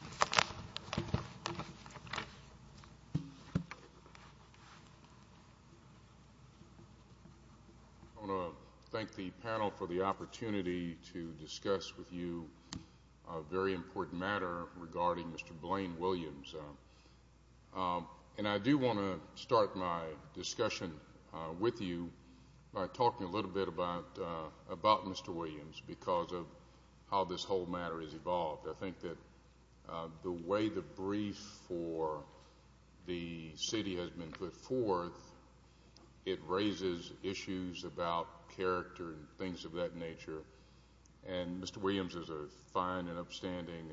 I want to thank the panel for the opportunity to discuss with you a very important matter regarding Mr. Blayne Williams. And I do want to start my discussion with you by talking a little bit about Mr. Williams because of how this whole matter has evolved. I think that the way the brief for the city has been put forth, it raises issues about character and things of that nature. And Mr. Williams is a fine and upstanding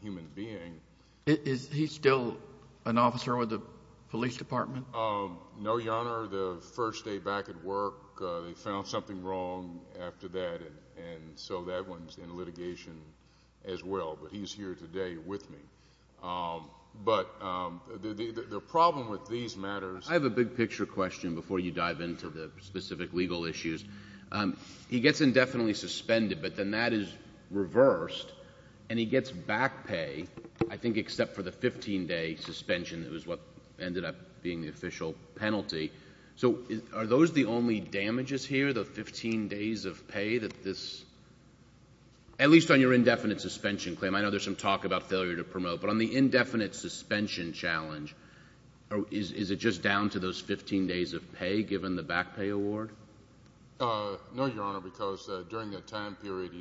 human being. Is he still an officer with the police department? No, Your Honor. The first day back at work they found something wrong after that and so that one's in litigation as well. But he's here today with me. But the problem with these matters... I have a big picture question before you dive into the specific legal issues. He gets indefinitely suspended but then that is reversed and he gets back pay, I think except for the 15-day suspension that was what ended up being the official penalty. So are those the only damages here, the 15 days of pay that this... At least on your indefinite suspension claim, I know there's some talk about failure to promote but on the indefinite suspension challenge, is it just down to those 15 days of pay given the back pay award? No, Your Honor, because during that time period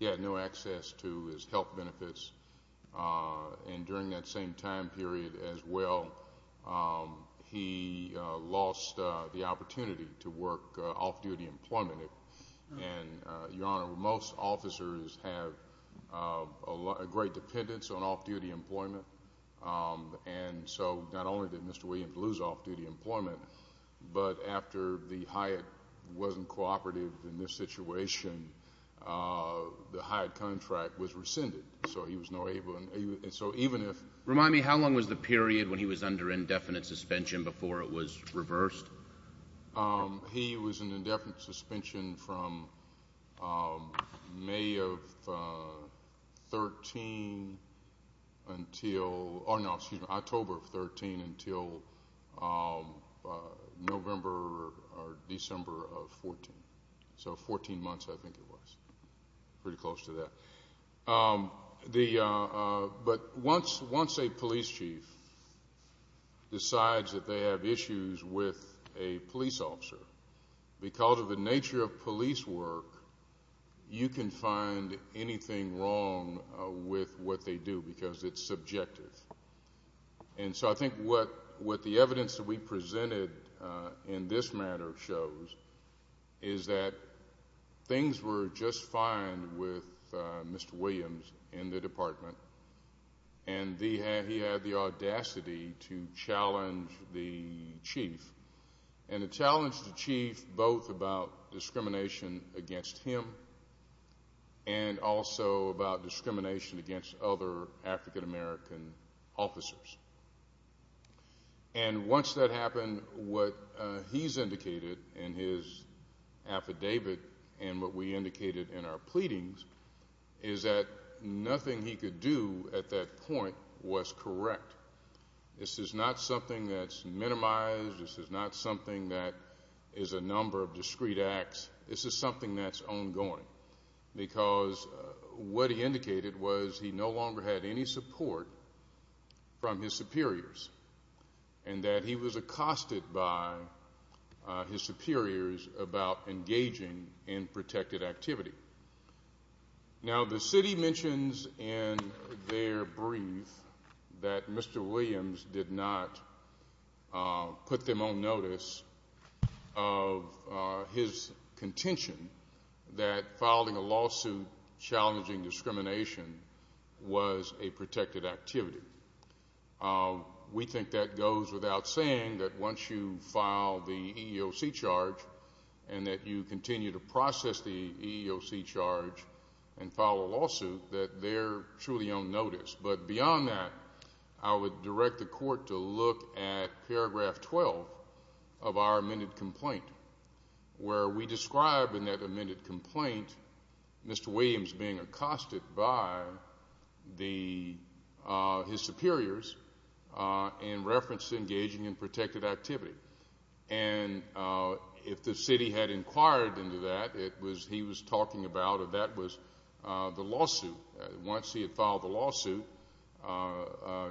he had no access to his health benefits and during that same time period as well he lost the opportunity to work off-duty employment. And, Your Honor, most officers have a great dependence on off-duty employment and so not only did Mr. Williams lose off-duty employment but after the Hyatt wasn't cooperative in this situation, the Hyatt contract was rescinded. So he was no longer able... So even if... Remind me, how long was the period when he was under indefinite suspension before it was reversed? He was in indefinite suspension from May of 13 until... Oh, no, excuse me, October of 13 until November or December of 14. So 14 months I think it was, pretty close to that. But once a police chief decides that they have issues with a police officer, because of the nature of police work, you can find anything wrong with what they do because it's subjective. And so I think what the evidence that we presented in this matter shows is that things were just fine with Mr. Williams in the department and he had the audacity to challenge the chief. And he challenged the chief both about discrimination against him and also about discrimination against other African American officers. And once that happened, what he's indicated in his affidavit and what we indicated in our pleadings is that nothing he could do at that point was correct. This is not something that's minimized. This is not something that is a number of discrete acts. This is something that's ongoing because what he indicated was he no longer had any support from his superiors and that he was accosted by his superiors about engaging in protected activity. Now the city mentions in their brief that Mr. Williams did not put them on notice of his contention that filing a lawsuit challenging discrimination was a protected activity. We think that goes without saying that once you file the EEOC charge and that you continue to process the EEOC charge and file a lawsuit that they're truly on notice. But beyond that, I would direct the court to look at paragraph 12 of our amended complaint where we describe in that amended complaint Mr. Williams being accosted by his superiors in reference to engaging in protected activity. And if the city had inquired into that, he was talking about that was the lawsuit. Once he had filed the lawsuit,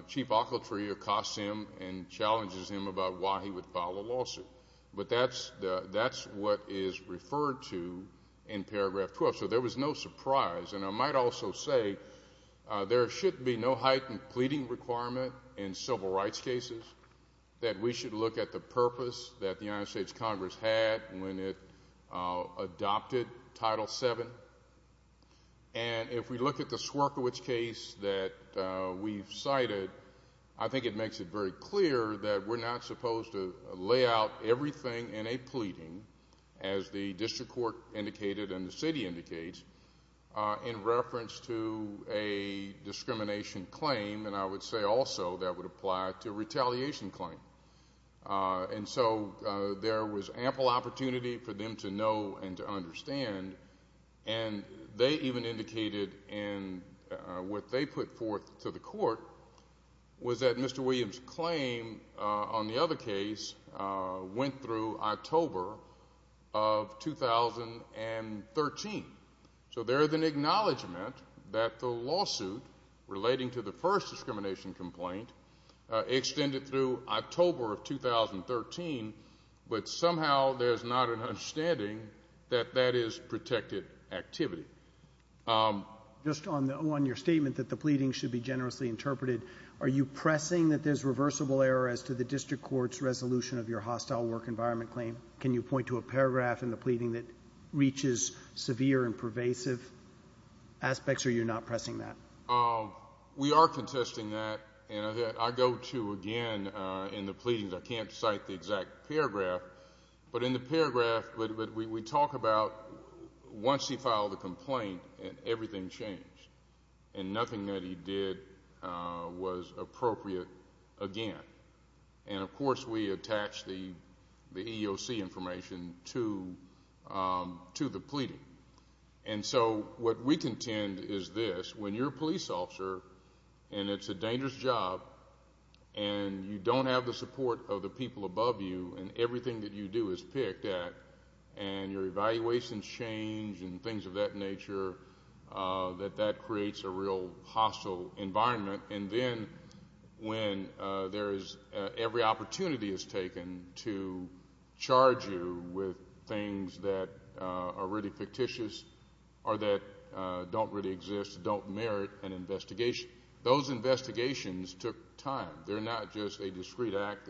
chief occultry accosts him and challenges him about why he would file a lawsuit. But that's what is referred to in paragraph 12. So there was no surprise. And I might also say there should be no heightened pleading requirement in civil rights cases that we should look at the purpose that the United States Congress had when it adopted Title VII. And if we look at the Swierkiewicz case that we've cited, I think it makes it very clear that we're not supposed to lay out everything in a pleading, as the district court indicated and the city indicates, in reference to a discrimination claim. And I would say also that would apply to a retaliation claim. And so there was ample opportunity for them to know and to understand. And they even indicated in what they put forth to the court was that Mr. Williams' claim on the other case went through October of 2013. So there is an acknowledgment that the lawsuit relating to the first discrimination complaint extended through October of 2013. But somehow there's not an understanding that that is protected activity. Just on your statement that the pleading should be generously interpreted, are you pressing that there's reversible error as to the district court's resolution of your hostile work environment claim? Can you point to a paragraph in the pleading that reaches severe and pervasive aspects, or you're not pressing that? We are contesting that. And I go to, again, in the pleadings, I can't cite the exact paragraph, but in the paragraph we talk about once he filed a complaint and everything changed and nothing that he did was appropriate again. And, of course, we attach the EEOC information to the pleading. And so what we contend is this. When you're a police officer and it's a dangerous job and you don't have the support of the people above you and everything that you do is picked at and your evaluations change and things of that nature, that that creates a real hostile environment. And then when every opportunity is taken to charge you with things that are really fictitious or that don't really exist, don't merit an investigation, those investigations took time. They're not just a discreet act.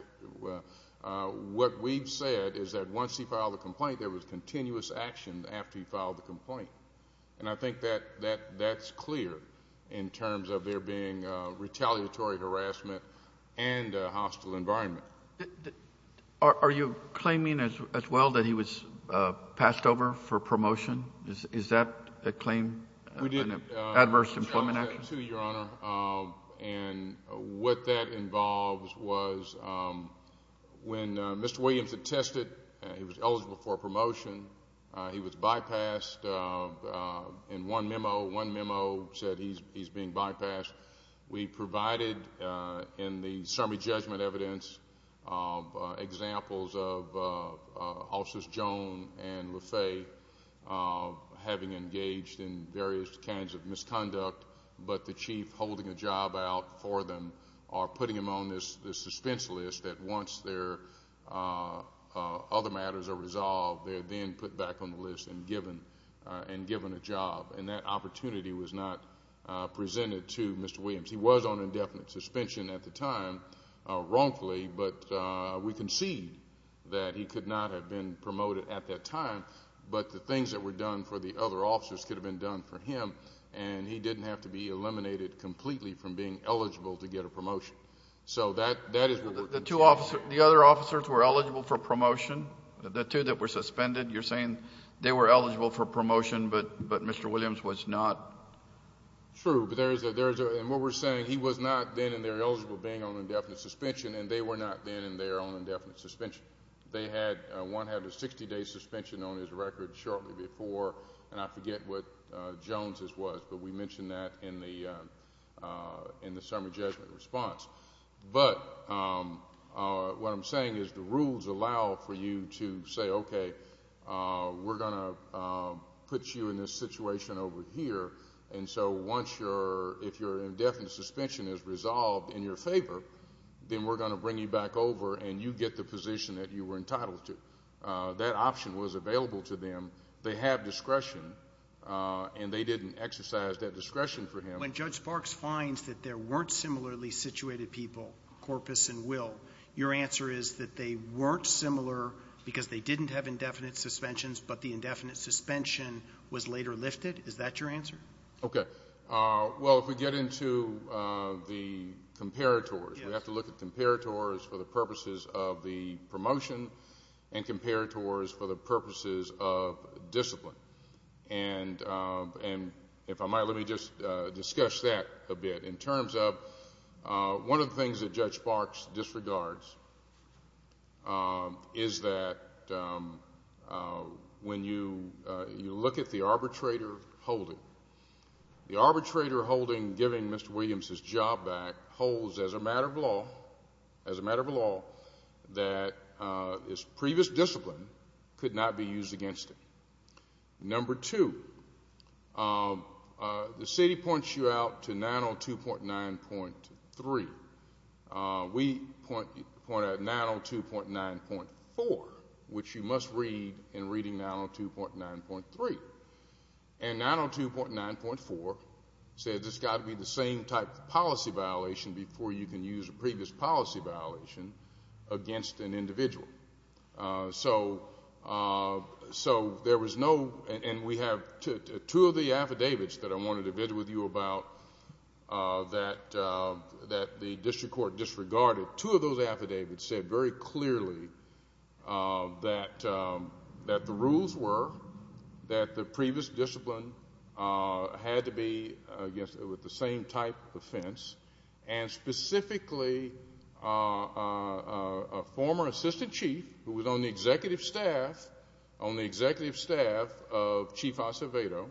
What we've said is that once he filed a complaint, and I think that's clear in terms of there being retaliatory harassment and a hostile environment. Are you claiming as well that he was passed over for promotion? Is that a claim in the Adverse Employment Act? We did challenge that, too, Your Honor. And what that involves was when Mr. Williams had tested, he was eligible for a promotion. He was bypassed in one memo. One memo said he's being bypassed. We provided in the summary judgment evidence examples of Officers Joan and LaFay having engaged in various kinds of misconduct, but the chief holding a job out for them or putting them on the suspense list that once their other matters are resolved, they're then put back on the list and given a job. And that opportunity was not presented to Mr. Williams. He was on indefinite suspension at the time, wrongfully, but we concede that he could not have been promoted at that time, but the things that were done for the other officers could have been done for him, and he didn't have to be eliminated completely from being eligible to get a promotion. So that is what we're saying. The two officers, the other officers who were eligible for promotion, the two that were suspended, you're saying they were eligible for promotion, but Mr. Williams was not? True. And what we're saying, he was not then in there eligible being on indefinite suspension, and they were not then in there on indefinite suspension. One had a 60-day suspension on his record shortly before, and I forget what Joan's was, but we mentioned that in the summary judgment response. But what I'm saying is the rules allow for you to say, okay, we're going to put you in this situation over here, and so if your indefinite suspension is resolved in your favor, then we're going to bring you back over and you get the position that you were entitled to. That option was available to them. They have discretion, and they didn't exercise that discretion for him. When Judge Sparks finds that there weren't similarly situated people, Corpus and Will, your answer is that they weren't similar because they didn't have indefinite suspensions, but the indefinite suspension was later lifted? Is that your answer? Okay. Well, if we get into the comparators, we have to look at comparators for the purposes of the promotion and comparators for the purposes of discipline. And if I might, let me just discuss that a bit. In terms of one of the things that Judge Sparks disregards is that when you look at the arbitrator holding, the arbitrator holding, giving Mr. Williams his job back, holds as a matter of law that his previous discipline could not be used against him. Number two, the city points you out to 902.9.3. We point out 902.9.4, which you must read in reading 902.9.3. And 902.9.4 says it's got to be the same type of policy violation before you can use a previous policy violation against an individual. So there was no, and we have two of the affidavits that I wanted to visit with you about that the district court disregarded. Two of those affidavits said very clearly that the rules were that the previous discipline had to be, I guess, with the same type of offense. And specifically, a former assistant chief who was on the executive staff of Chief Acevedo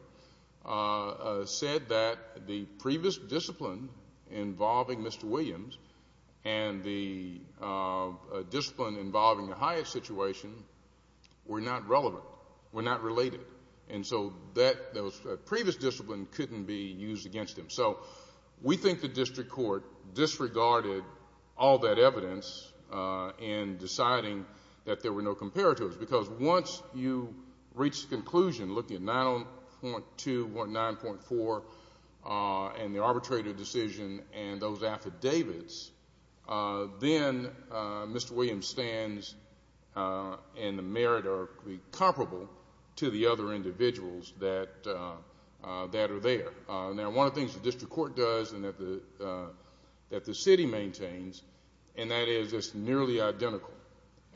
said that the previous discipline involving Mr. Williams and the discipline involving the Hyatt situation were not relevant, were not related. And so that previous discipline couldn't be used against him. So we think the district court disregarded all that evidence in deciding that there were no comparatives because once you reach the conclusion looking at 902.9.4 and the arbitrator decision and those affidavits, then Mr. Williams stands in the merit or comparable to the other individuals that are there. Now, one of the things the district court does and that the city maintains, and that is it's nearly identical.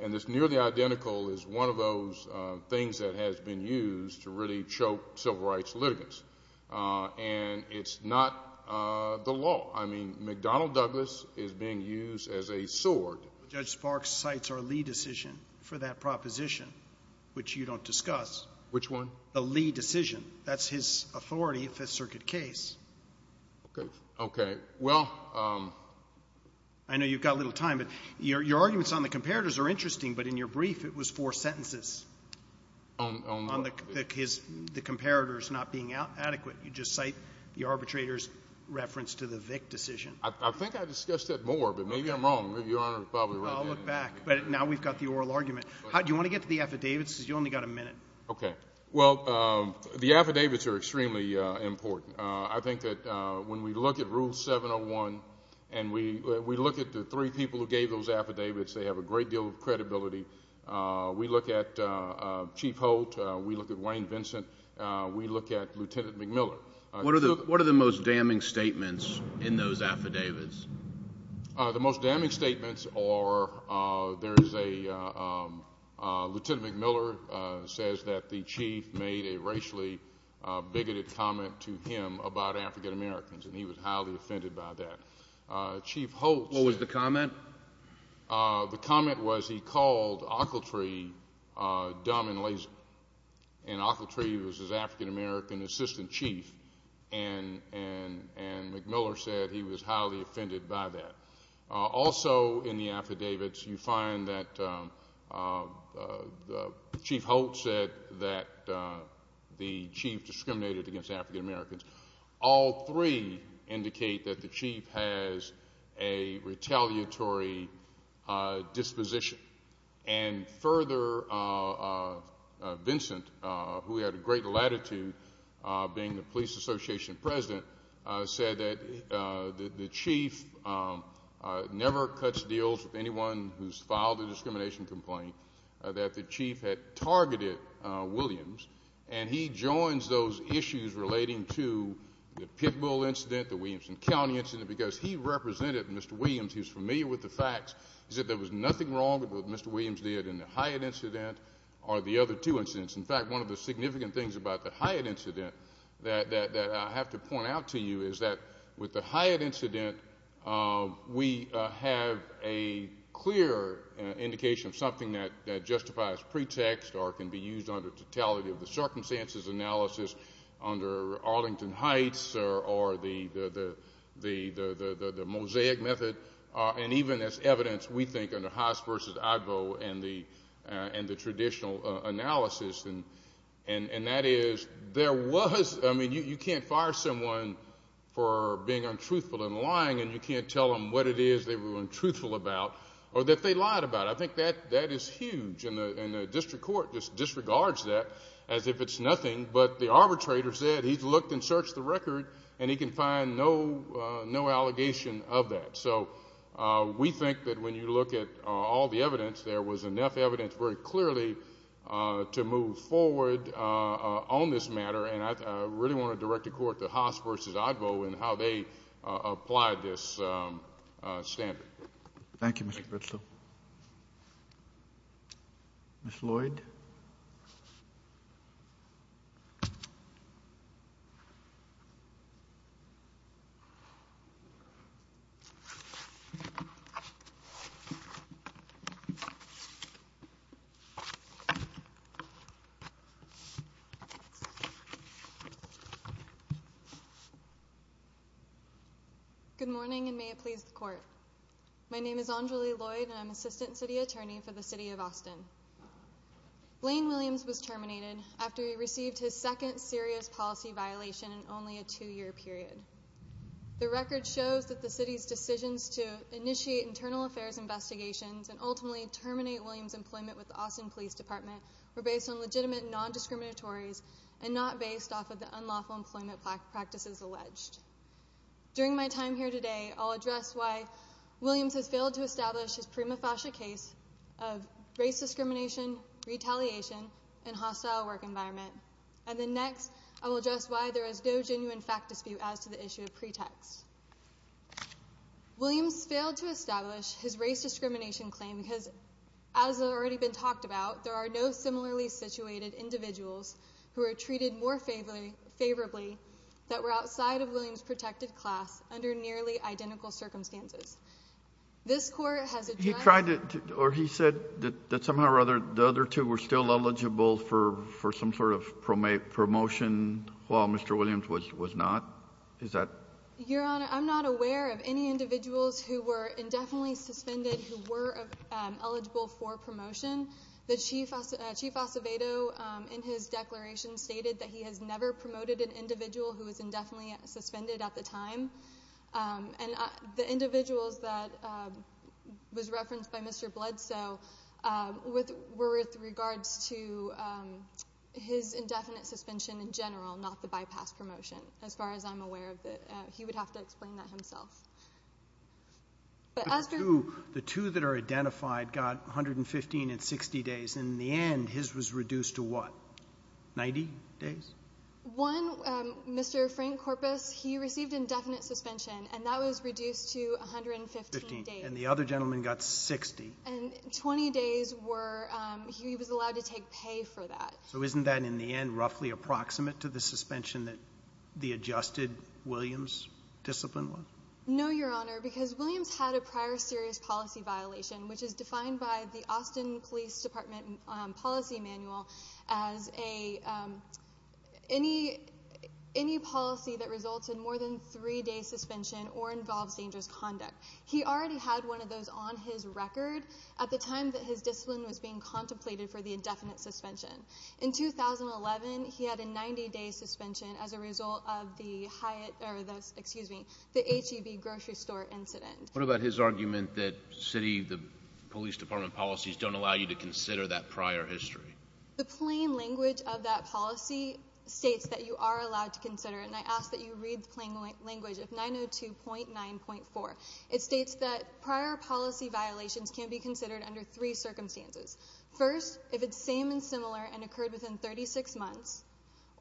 And this nearly identical is one of those things that has been used to really choke civil rights litigants. And it's not the law. I mean, McDonnell Douglas is being used as a sword. Judge Sparks cites our Lee decision for that proposition, which you don't discuss. Which one? The Lee decision. That's his authority in the Fifth Circuit case. Okay. Okay. Well, I know you've got a little time, but your arguments on the comparatives are interesting, but in your brief it was four sentences on the comparatives not being adequate. You just cite the arbitrator's reference to the Vick decision. I think I discussed that more, but maybe I'm wrong. Your Honor is probably right. I'll look back. But now we've got the oral argument. Do you want to get to the affidavits? Because you've only got a minute. Okay. Well, the affidavits are extremely important. I think that when we look at Rule 701 and we look at the three people who gave those affidavits, they have a great deal of credibility. We look at Chief Holt. We look at Wayne Vincent. We look at Lieutenant McMillan. What are the most damning statements in those affidavits? The most damning statements are there is a Lieutenant McMillan says that the chief made a racially bigoted comment to him about African-Americans, and he was highly offended by that. Chief Holt. What was the comment? The comment was he called Ockeltree dumb and lazy, and Ockeltree was his African-American assistant chief, and McMillan said he was highly offended by that. Also in the affidavits, you find that Chief Holt said that the chief discriminated against African-Americans. All three indicate that the chief has a retaliatory disposition. And further, Vincent, who had a great latitude being the police association president, said that the chief never cuts deals with anyone who's filed a discrimination complaint, that the chief had targeted Williams, and he joins those issues relating to the Pitbull incident, the Williamson County incident, because he represented Mr. Williams. He was familiar with the facts. He said there was nothing wrong with what Mr. Williams did in the Hyatt incident or the other two incidents. In fact, one of the significant things about the Hyatt incident that I have to point out to you is that with the Hyatt incident, we have a clear indication of something that justifies pretext or can be used under totality of the circumstances analysis under Arlington Heights or the mosaic method, and even as evidence, we think, under Haas versus Advo and the traditional analysis, and that is there was, I mean, you can't fire someone for being untruthful and lying, and you can't tell them what it is they were untruthful about or that they lied about. I think that is huge, and the district court just disregards that as if it's nothing, but the arbitrator said he's looked and searched the record, and he can find no allegation of that. So we think that when you look at all the evidence, there was enough evidence very clearly to move forward on this matter, and I really want to direct the court to Haas versus Advo and how they applied this standard. Thank you, Mr. Bristow. Ms. Lloyd? Good morning, and may it please the court. My name is Anjali Lloyd, and I'm assistant city attorney for the city of Austin. Blaine Williams was terminated after he received his second serious policy violation in only a two-year period. The record shows that the city's decisions to initiate internal affairs investigations and ultimately terminate Williams' employment with the Austin Police Department were based on legitimate non-discriminatories and not based off of the unlawful employment practices alleged. During my time here today, I'll address why Williams has failed to establish his prima facie case of race discrimination, retaliation, and hostile work environment, and then next I will address why there is no genuine fact dispute as to the issue of pretext. Williams failed to establish his race discrimination claim because, as has already been talked about, there are no similarly situated individuals who are treated more favorably that were outside of Williams' protected class under nearly identical circumstances. This court has addressed... He tried to, or he said that somehow or other the other two were still eligible for some sort of promotion while Mr. Williams was not? Is that... Your Honor, I'm not aware of any individuals who were indefinitely suspended who were eligible for promotion. The Chief Acevedo, in his declaration, stated that he has never promoted an individual who was indefinitely suspended at the time. And the individuals that was referenced by Mr. Bledsoe were with regards to his indefinite suspension in general, not the bypass promotion, as far as I'm aware of. He would have to explain that himself. The two that are identified got 115 and 60 days. In the end, his was reduced to what, 90 days? One, Mr. Frank Corpus, he received indefinite suspension, and that was reduced to 115 days. And the other gentleman got 60. And 20 days were he was allowed to take pay for that. So isn't that, in the end, roughly approximate to the suspension that the adjusted Williams discipline was? No, Your Honor, because Williams had a prior serious policy violation, which is defined by the Austin Police Department Policy Manual as any policy that results in more than three days' suspension or involves dangerous conduct. He already had one of those on his record at the time that his discipline was being contemplated for the indefinite suspension. In 2011, he had a 90-day suspension as a result of the HEB grocery store incident. What about his argument that city, the police department policies don't allow you to consider that prior history? The plain language of that policy states that you are allowed to consider it, and I ask that you read the plain language of 902.9.4. It states that prior policy violations can be considered under three circumstances. First, if it's same and similar and occurred within 36 months,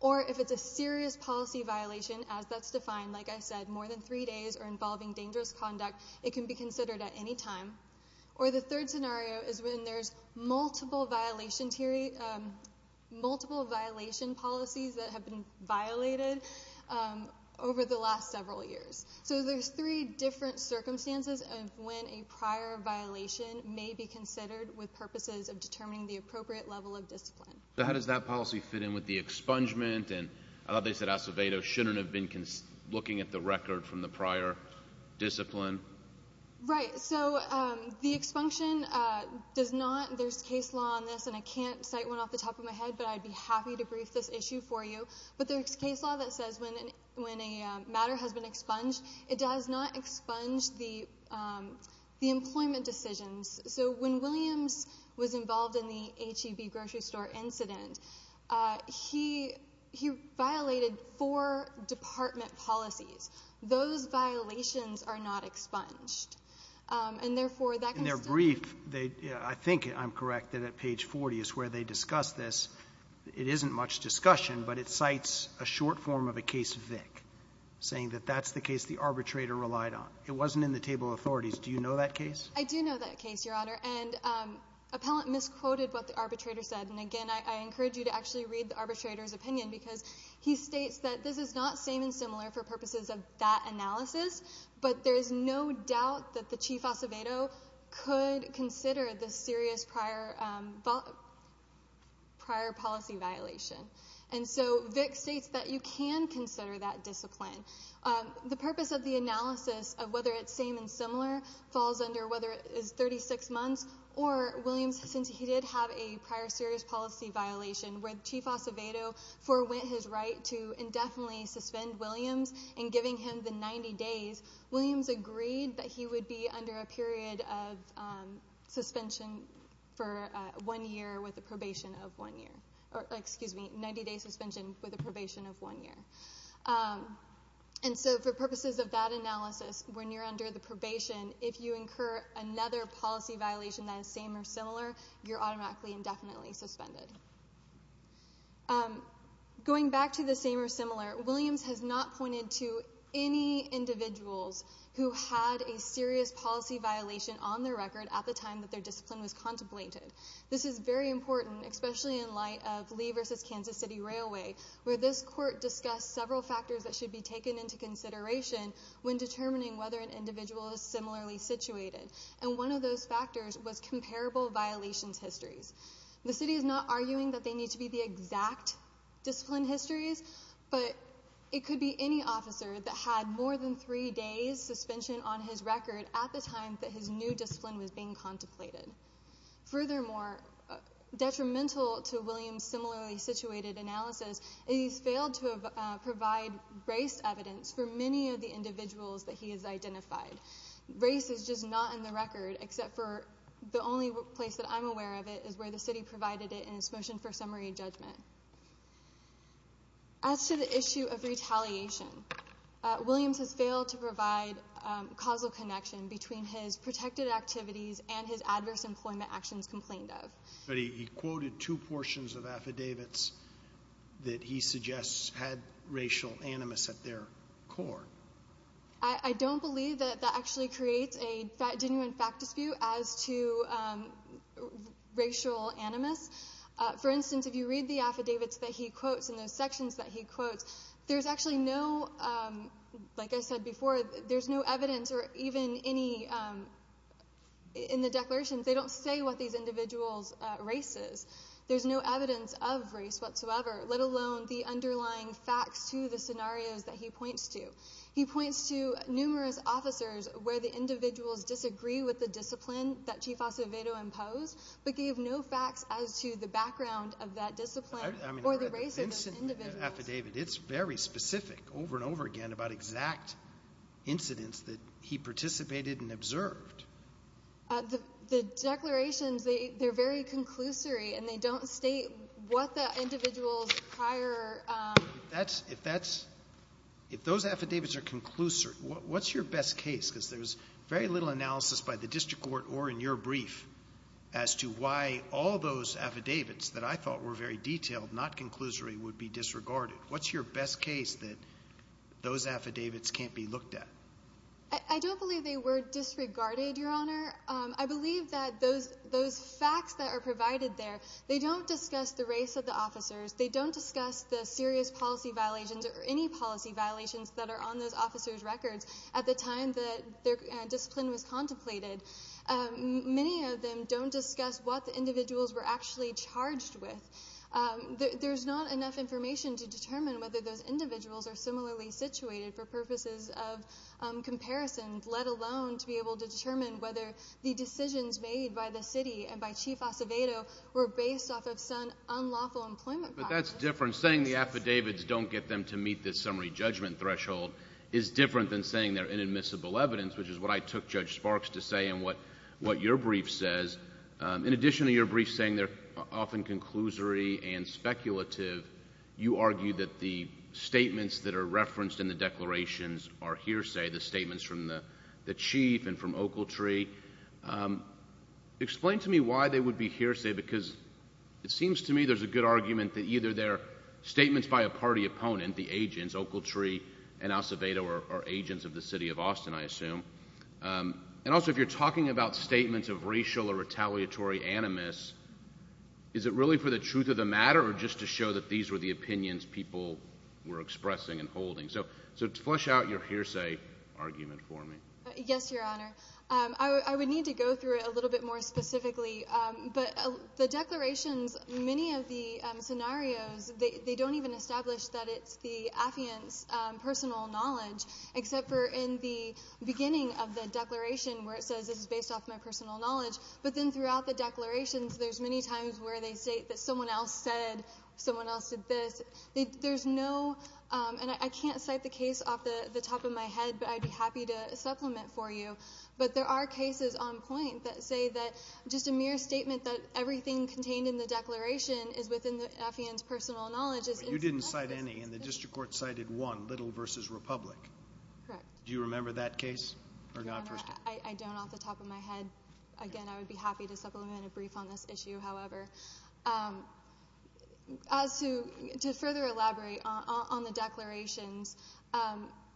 or if it's a serious policy violation, as that's defined, like I said, more than three days or involving dangerous conduct, it can be considered at any time. Or the third scenario is when there's multiple violation policies that have been violated over the last several years. So there's three different circumstances of when a prior violation may be considered with purposes of determining the appropriate level of discipline. So how does that policy fit in with the expungement? And I thought they said Acevedo shouldn't have been looking at the record from the prior discipline. Right. So the expunction does not. There's case law on this, and I can't cite one off the top of my head, but I'd be happy to brief this issue for you. But there's case law that says when a matter has been expunged, it does not expunge the employment decisions. So when Williams was involved in the H-E-B grocery store incident, he violated four department policies. Those violations are not expunged. And, therefore, that can still be- In their brief, I think I'm correct that at page 40 is where they discuss this. It isn't much discussion, but it cites a short form of a case Vick, saying that that's the case the arbitrator relied on. It wasn't in the table of authorities. Do you know that case? I do know that case, Your Honor. And appellant misquoted what the arbitrator said. And, again, I encourage you to actually read the arbitrator's opinion because he states that this is not same and similar for purposes of that analysis. But there is no doubt that the Chief Acevedo could consider this serious prior policy violation. And so Vick states that you can consider that discipline. The purpose of the analysis of whether it's same and similar falls under whether it is 36 months or Williams, since he did have a prior serious policy violation where Chief Acevedo forwent his right to indefinitely suspend Williams and giving him the 90 days, Williams agreed that he would be under a period of 90-day suspension with a probation of one year. And so for purposes of that analysis, when you're under the probation, if you incur another policy violation that is same or similar, you're automatically indefinitely suspended. Going back to the same or similar, Williams has not pointed to any individuals who had a serious policy violation on their record at the time that their discipline was contemplated. This is very important, especially in light of Lee v. Kansas City Railway, where this court discussed several factors that should be taken into consideration when determining whether an individual is similarly situated. And one of those factors was comparable violations histories. The city is not arguing that they need to be the exact discipline histories, but it could be any officer that had more than three days' suspension on his record at the time that his new discipline was being contemplated. Furthermore, detrimental to Williams' similarly situated analysis, is he's failed to provide race evidence for many of the individuals that he has identified. Race is just not on the record, except for the only place that I'm aware of it is where the city provided it in its motion for summary judgment. As to the issue of retaliation, Williams has failed to provide causal connection between his protected activities and his adverse employment actions complained of. But he quoted two portions of affidavits that he suggests had racial animus at their core. I don't believe that that actually creates a genuine fact dispute as to racial animus. For instance, if you read the affidavits that he quotes and those sections that he quotes, there's actually no, like I said before, there's no evidence or even any, in the declarations they don't say what these individuals' race is. There's no evidence of race whatsoever, let alone the underlying facts to the scenarios that he points to. He points to numerous officers where the individuals disagree with the discipline that Chief Acevedo imposed, but gave no facts as to the background of that discipline or the race of those individuals. Affidavit, it's very specific over and over again about exact incidents that he participated and observed. The declarations, they're very conclusory, and they don't state what the individuals' prior... If those affidavits are conclusory, what's your best case? Because there's very little analysis by the district court or in your brief as to why all those affidavits that I thought were very detailed, not conclusory, would be disregarded. What's your best case that those affidavits can't be looked at? I don't believe they were disregarded, Your Honor. I believe that those facts that are provided there, they don't discuss the race of the officers. They don't discuss the serious policy violations or any policy violations that are on those officers' records at the time that their discipline was contemplated. Many of them don't discuss what the individuals were actually charged with. There's not enough information to determine whether those individuals are similarly situated for purposes of comparison, let alone to be able to determine whether the decisions made by the city and by Chief Acevedo were based off of some unlawful employment practices. But that's different. Saying the affidavits don't get them to meet the summary judgment threshold is different than saying they're inadmissible evidence, which is what I took Judge Sparks to say in what your brief says. In addition to your brief saying they're often conclusory and speculative, you argue that the statements that are referenced in the declarations are hearsay, the statements from the chief and from Oakletree. Explain to me why they would be hearsay because it seems to me there's a good argument that either they're statements by a party opponent, the agents, Oakletree and Acevedo are agents of the city of Austin, I assume, and also if you're talking about statements of racial or retaliatory animus, is it really for the truth of the matter or just to show that these were the opinions people were expressing and holding? So flesh out your hearsay argument for me. Yes, Your Honor. I would need to go through it a little bit more specifically. But the declarations, many of the scenarios, they don't even establish that it's the affiant's personal knowledge, except for in the beginning of the declaration where it says it's based off my personal knowledge. But then throughout the declarations, there's many times where they state that someone else said, someone else did this. And I can't cite the case off the top of my head, but I'd be happy to supplement for you. But there are cases on point that say that just a mere statement that everything contained in the declaration is within the affiant's personal knowledge. But you didn't cite any, and the district court cited one, Little v. Republic. Correct. Do you remember that case? Your Honor, I don't off the top of my head. Again, I would be happy to supplement a brief on this issue, however. As to further elaborate on the declarations,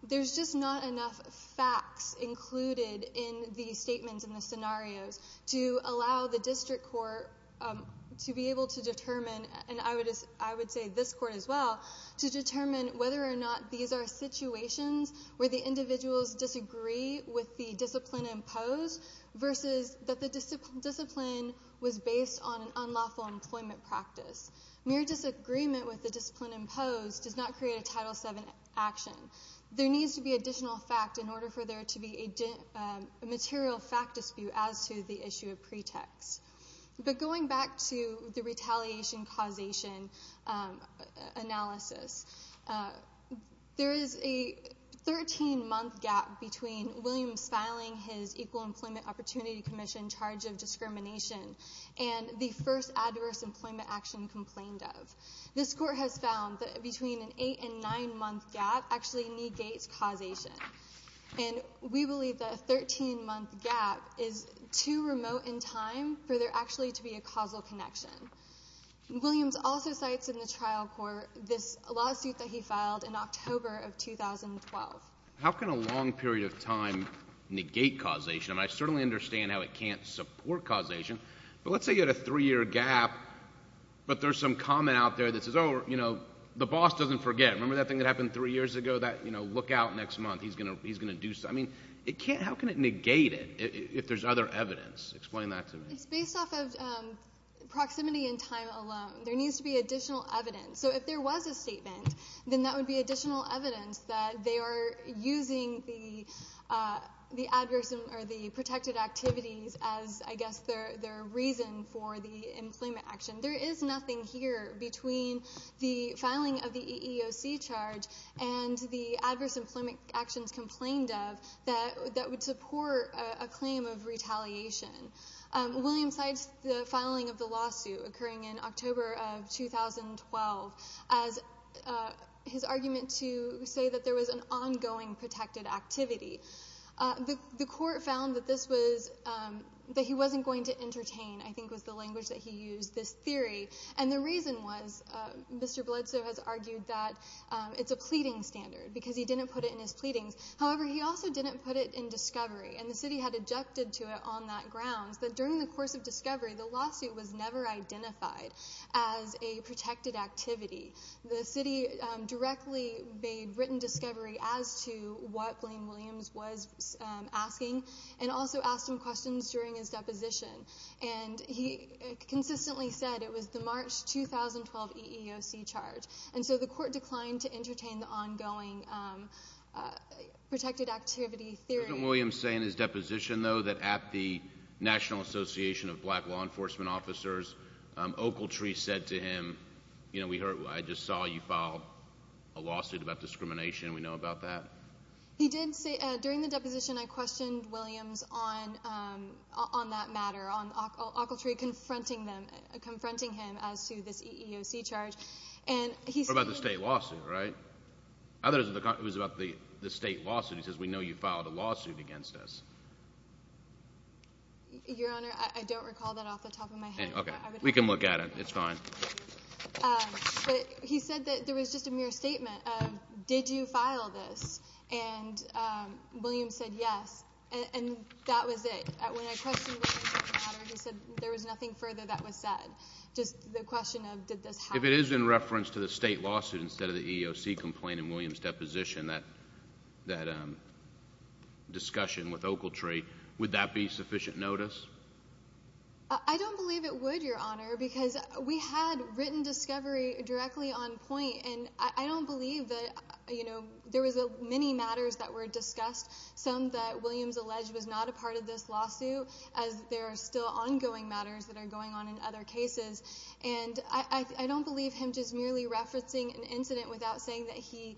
there's just not enough facts included in the statements and the scenarios to allow the district court to be able to determine, and I would say this court as well, to determine whether or not these are situations where the individuals disagree with the discipline imposed versus that the discipline was based on an unlawful employment practice. Mere disagreement with the discipline imposed does not create a Title VII action. There needs to be additional fact in order for there to be a material fact dispute as to the issue of pretext. But going back to the retaliation causation analysis, there is a 13-month gap between Williams filing his Equal Employment Opportunity Commission charge of discrimination and the first adverse employment action complained of. This court has found that between an eight- and nine-month gap actually negates causation, and we believe that a 13-month gap is too remote in time for there actually to be a causal connection. Williams also cites in the trial court this lawsuit that he filed in October of 2012. How can a long period of time negate causation? I mean, I certainly understand how it can't support causation, but let's say you had a three-year gap, but there's some comment out there that says, oh, you know, the boss doesn't forget. Remember that thing that happened three years ago, that, you know, look out next month, he's going to do something. I mean, how can it negate it if there's other evidence? Explain that to me. It's based off of proximity in time alone. There needs to be additional evidence. So if there was a statement, then that would be additional evidence that they are using the adverse or the protected activities as, I guess, their reason for the employment action. There is nothing here between the filing of the EEOC charge and the adverse employment actions complained of that would support a claim of retaliation. William cites the filing of the lawsuit occurring in October of 2012 as his argument to say that there was an ongoing protected activity. The court found that this was, that he wasn't going to entertain, I think was the language that he used, this theory. And the reason was, Mr. Bledsoe has argued that it's a pleading standard because he didn't put it in his pleadings. However, he also didn't put it in discovery. And the city had adjusted to it on that grounds that during the course of discovery, the lawsuit was never identified as a protected activity. The city directly made written discovery as to what William Williams was asking and also asked him questions during his deposition. And he consistently said it was the March 2012 EEOC charge. And so the court declined to entertain the ongoing protected activity theory. Didn't William say in his deposition, though, that at the National Association of Black Law Enforcement Officers, Ocletree said to him, you know, we heard, I just saw you file a lawsuit about discrimination. We know about that. He did say, during the deposition, I questioned Williams on that matter, on Ocletree confronting them, confronting him as to this EEOC charge. What about the state lawsuit, right? I thought it was about the state lawsuit. He says, we know you filed a lawsuit against us. Your Honor, I don't recall that off the top of my head. Okay. We can look at it. It's fine. But he said that there was just a mere statement of, did you file this? And Williams said, yes. And that was it. When I questioned Williams on the matter, he said there was nothing further that was said. Just the question of, did this happen? If it is in reference to the state lawsuit instead of the EEOC complaint in Williams' deposition, that discussion with Ocletree, would that be sufficient notice? I don't believe it would, Your Honor, because we had written discovery directly on point, and I don't believe that, you know, there was many matters that were discussed, some that Williams alleged was not a part of this lawsuit, as there are still ongoing matters that are going on in other cases. And I don't believe him just merely referencing an incident without saying that he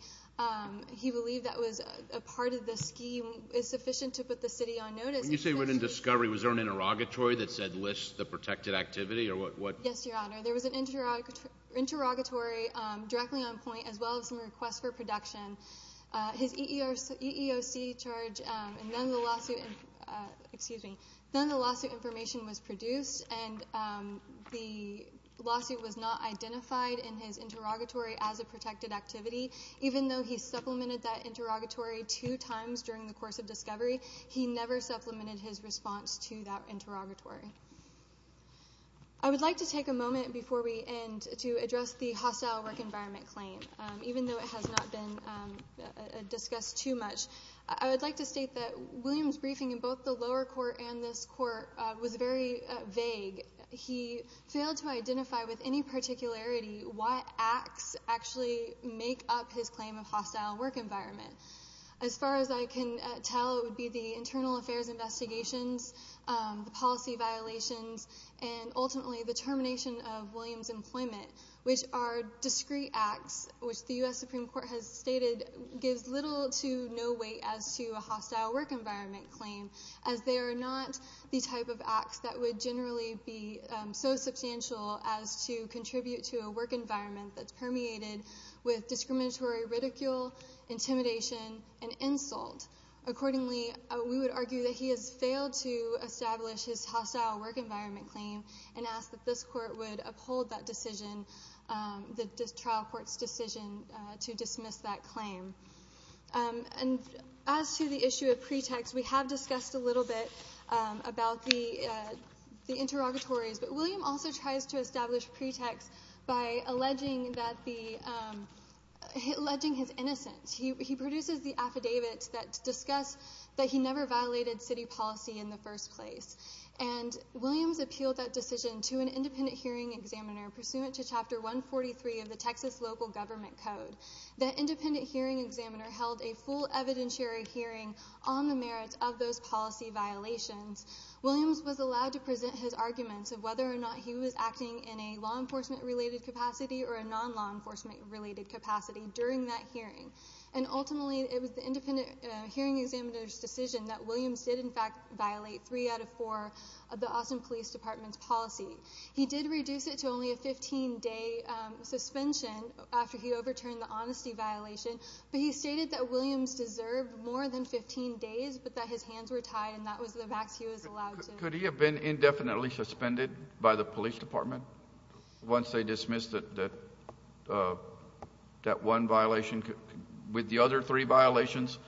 believed that was a part of the scheme is sufficient to put the city on notice. When you say written discovery, was there an interrogatory that said list the protected activity or what? Yes, Your Honor. There was an interrogatory directly on point as well as some requests for production. His EEOC charge and none of the lawsuit information was produced, and the lawsuit was not identified in his interrogatory as a protected activity. Even though he supplemented that interrogatory two times during the course of discovery, he never supplemented his response to that interrogatory. I would like to take a moment before we end to address the hostile work environment claim. Even though it has not been discussed too much, I would like to state that Williams' briefing in both the lower court and this court was very vague. He failed to identify with any particularity what acts actually make up his claim of hostile work environment. As far as I can tell, it would be the internal affairs investigations, the policy violations, and ultimately the termination of Williams' employment, which are discrete acts, which the U.S. Supreme Court has stated gives little to no weight as to a hostile work environment claim, as they are not the type of acts that would generally be so substantial as to contribute to a work environment that's permeated with discriminatory ridicule, intimidation, and insult. Accordingly, we would argue that he has failed to establish his hostile work environment claim and ask that this court would uphold that decision, the trial court's decision to dismiss that claim. As to the issue of pretext, we have discussed a little bit about the interrogatories, but Williams also tries to establish pretext by alleging his innocence. He produces the affidavits that discuss that he never violated city policy in the first place, and Williams appealed that decision to an independent hearing examiner pursuant to Chapter 143 of the Texas Local Government Code. That independent hearing examiner held a full evidentiary hearing on the merits of those policy violations. Williams was allowed to present his arguments of whether or not he was acting in a law enforcement-related capacity or a non-law enforcement-related capacity during that hearing. Ultimately, it was the independent hearing examiner's decision that Williams did, in fact, violate three out of four of the Austin Police Department's policy. He did reduce it to only a 15-day suspension after he overturned the honesty violation, but he stated that Williams deserved more than 15 days, but that his hands were tied, and that was the max he was allowed to— Could he have been indefinitely suspended by the police department once they dismissed that one violation? With the other three violations,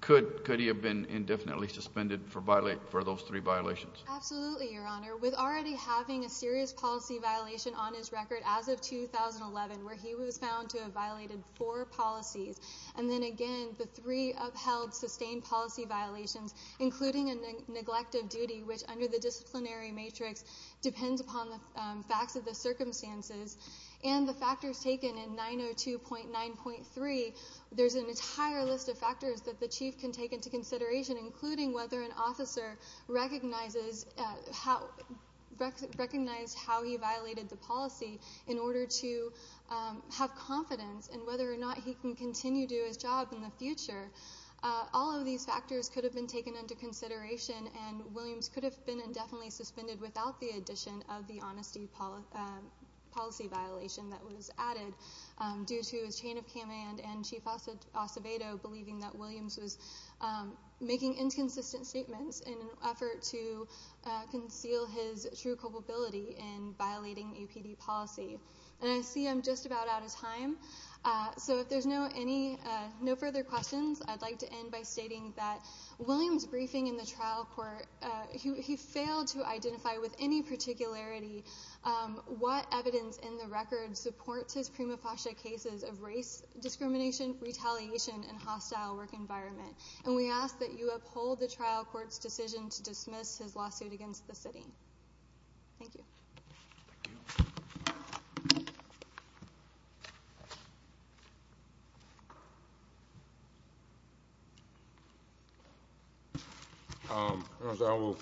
could he have been indefinitely suspended for those three violations? Absolutely, Your Honor. With already having a serious policy violation on his record as of 2011, where he was found to have violated four policies, and then again the three upheld, sustained policy violations, including a neglect of duty, which under the disciplinary matrix depends upon the facts of the circumstances, and the factors taken in 902.9.3, there's an entire list of factors that the chief can take into consideration, including whether an officer recognized how he violated the policy in order to have confidence and whether or not he can continue to do his job in the future. All of these factors could have been taken into consideration, and Williams could have been indefinitely suspended without the addition of the honesty policy violation that was added due to his chain of command and Chief Acevedo believing that Williams was making inconsistent statements in an effort to conceal his true culpability in violating EPD policy. And I see I'm just about out of time, so if there's no further questions, I'd like to end by stating that Williams' briefing in the trial court, he failed to identify with any particularity what evidence in the record supports his prima facie cases of race discrimination, retaliation, and hostile work environment. And we ask that you uphold the trial court's decision to dismiss his lawsuit against the city. Thank you. I will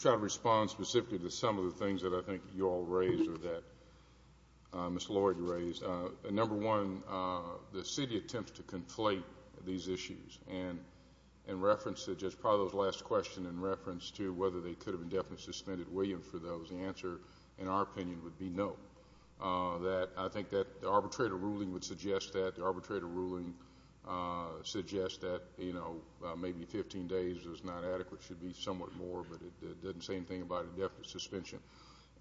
try to respond specifically to some of the things that I think you all raised or that Ms. Lloyd raised. Number one, the city attempts to conflate these issues, and in reference to just probably those last questions and in reference to whether they could have indefinitely suspended Williams for those, the answer, in our opinion, would be no. I think that the arbitrator ruling would suggest that. The arbitrator ruling suggests that, you know, maybe 15 days is not adequate. It should be somewhat more, but it doesn't say anything about indefinite suspension.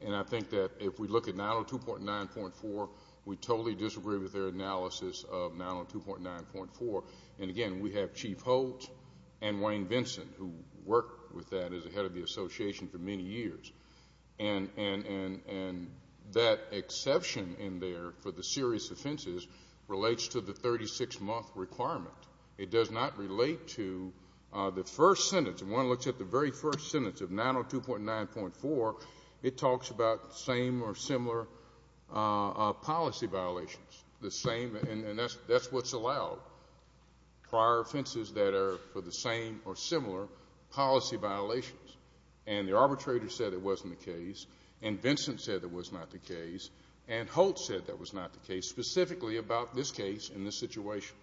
And I think that if we look at 902.9.4, we totally disagree with their analysis of 902.9.4. And, again, we have Chief Holt and Wayne Vinson, who worked with that as a head of the association for many years. And that exception in there for the serious offenses relates to the 36-month requirement. It does not relate to the first sentence. If one looks at the very first sentence of 902.9.4, it talks about the same or similar policy violations. And that's what's allowed, prior offenses that are for the same or similar policy violations. And the arbitrator said it wasn't the case, and Vinson said it was not the case, and Holt said that was not the case, specifically about this case and this situation.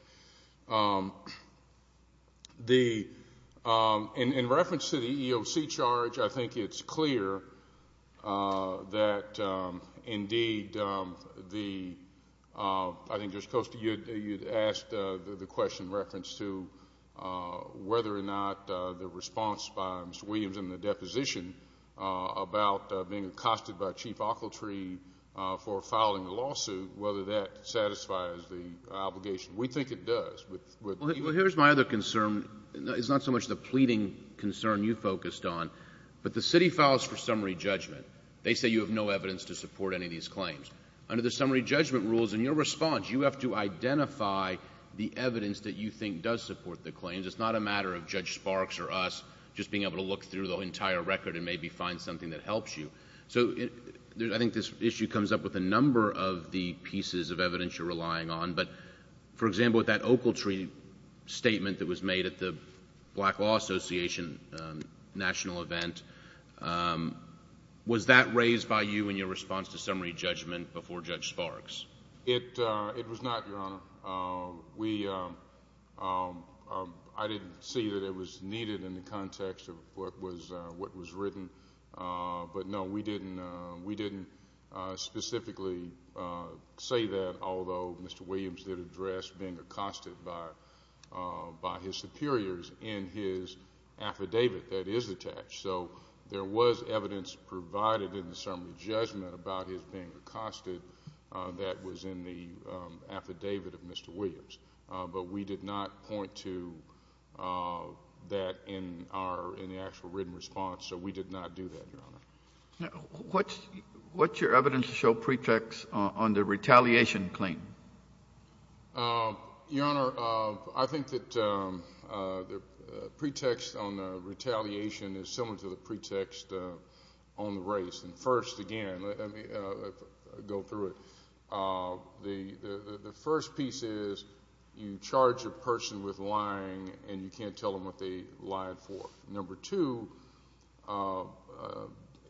In reference to the EEOC charge, I think it's clear that, indeed, the ‑‑ I think, Judge Costa, you had asked the question in reference to whether or not the response by Mr. Williams in the deposition about being accosted by Chief Ockeltree for filing a lawsuit, whether that satisfies the obligation. We think it does. Well, here's my other concern. It's not so much the pleading concern you focused on, but the city files for summary judgment. They say you have no evidence to support any of these claims. Under the summary judgment rules, in your response, you have to identify the evidence that you think does support the claims. It's not a matter of Judge Sparks or us just being able to look through the entire record and maybe find something that helps you. So I think this issue comes up with a number of the pieces of evidence you're relying on. But, for example, with that Ockeltree statement that was made at the Black Law Association national event, was that raised by you in your response to summary judgment before Judge Sparks? It was not, Your Honor. I didn't see that it was needed in the context of what was written. But, no, we didn't specifically say that, although Mr. Williams did address being accosted by his superiors in his affidavit that is attached. So there was evidence provided in the summary judgment about his being accosted that was in the affidavit of Mr. Williams. But we did not point to that in our actual written response. So we did not do that, Your Honor. What's your evidence to show pretext on the retaliation claim? Your Honor, I think that the pretext on the retaliation is similar to the pretext on the race. And first, again, let me go through it. The first piece is you charge a person with lying and you can't tell them what they lied for. Number two,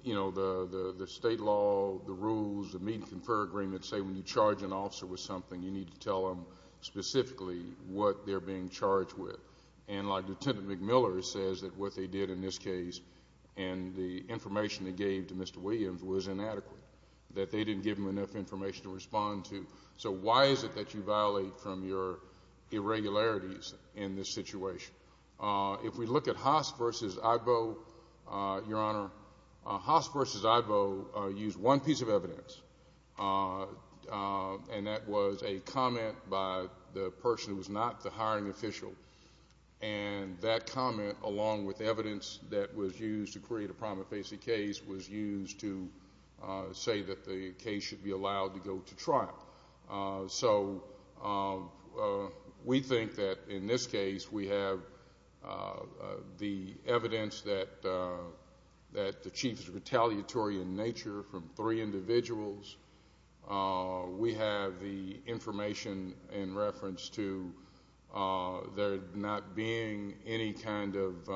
you know, the state law, the rules, the meeting confer agreements say when you charge an officer with something, you need to tell them specifically what they're being charged with. And, like, Lieutenant McMiller says that what they did in this case and the information they gave to Mr. Williams was inadequate, that they didn't give him enough information to respond to. So why is it that you violate from your irregularities in this situation? If we look at Haas v. Igbo, Your Honor, Haas v. Igbo used one piece of evidence, and that was a comment by the person who was not the hiring official. And that comment, along with evidence that was used to create a prima facie case, was used to say that the case should be allowed to go to trial. So we think that, in this case, we have the evidence that the chief is retaliatory in nature from three individuals. We have the information in reference to there not being any kind of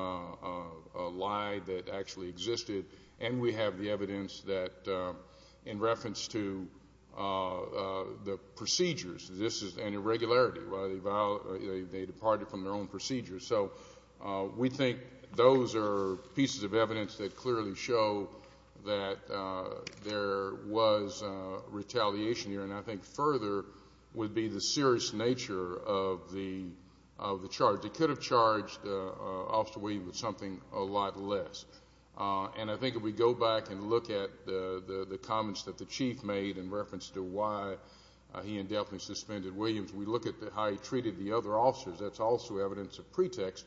lie that actually existed. And we have the evidence that, in reference to the procedures, this is an irregularity. They departed from their own procedures. So we think those are pieces of evidence that clearly show that there was retaliation here. And I think further would be the serious nature of the charge. They could have charged Officer Williams with something a lot less. And I think if we go back and look at the comments that the chief made in reference to why he indefinitely suspended Williams, we look at how he treated the other officers. That's also evidence of pretext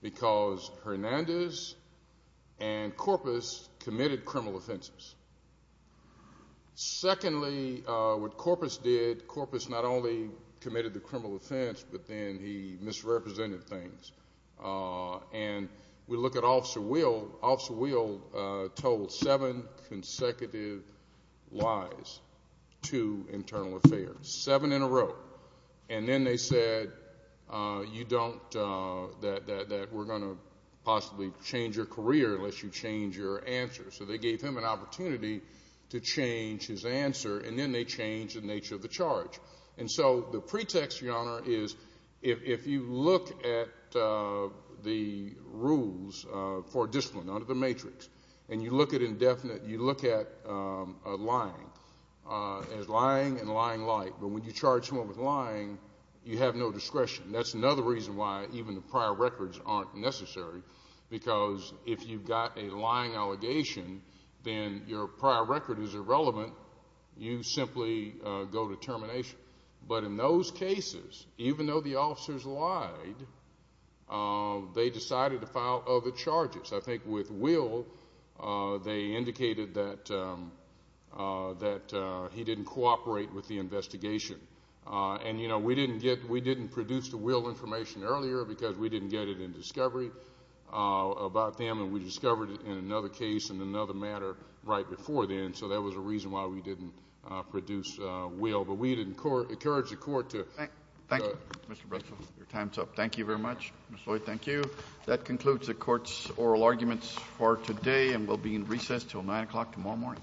because Hernandez and Corpus committed criminal offenses. Secondly, what Corpus did, Corpus not only committed the criminal offense, but then he misrepresented things. And we look at Officer Weald. Officer Weald told seven consecutive lies to Internal Affairs, seven in a row. And then they said, you don't, that we're going to possibly change your career unless you change your answer. So they gave him an opportunity to change his answer, and then they changed the nature of the charge. And so the pretext, Your Honor, is if you look at the rules for discipline under the matrix, and you look at lying as lying and lying light, but when you charge someone with lying, you have no discretion. That's another reason why even the prior records aren't necessary because if you've got a lying allegation, then your prior record is irrelevant. You simply go to termination. But in those cases, even though the officers lied, they decided to file other charges. I think with Weald, they indicated that he didn't cooperate with the investigation. And, you know, we didn't produce the Weald information earlier because we didn't get it in discovery about them, and we discovered it in another case in another matter right before then. So that was a reason why we didn't produce Weald. But we'd encourage the Court to. Thank you, Mr. Breslin. Your time is up. Thank you very much, Mr. Lloyd. Thank you. That concludes the Court's oral arguments for today and will be in recess until 9 o'clock tomorrow morning.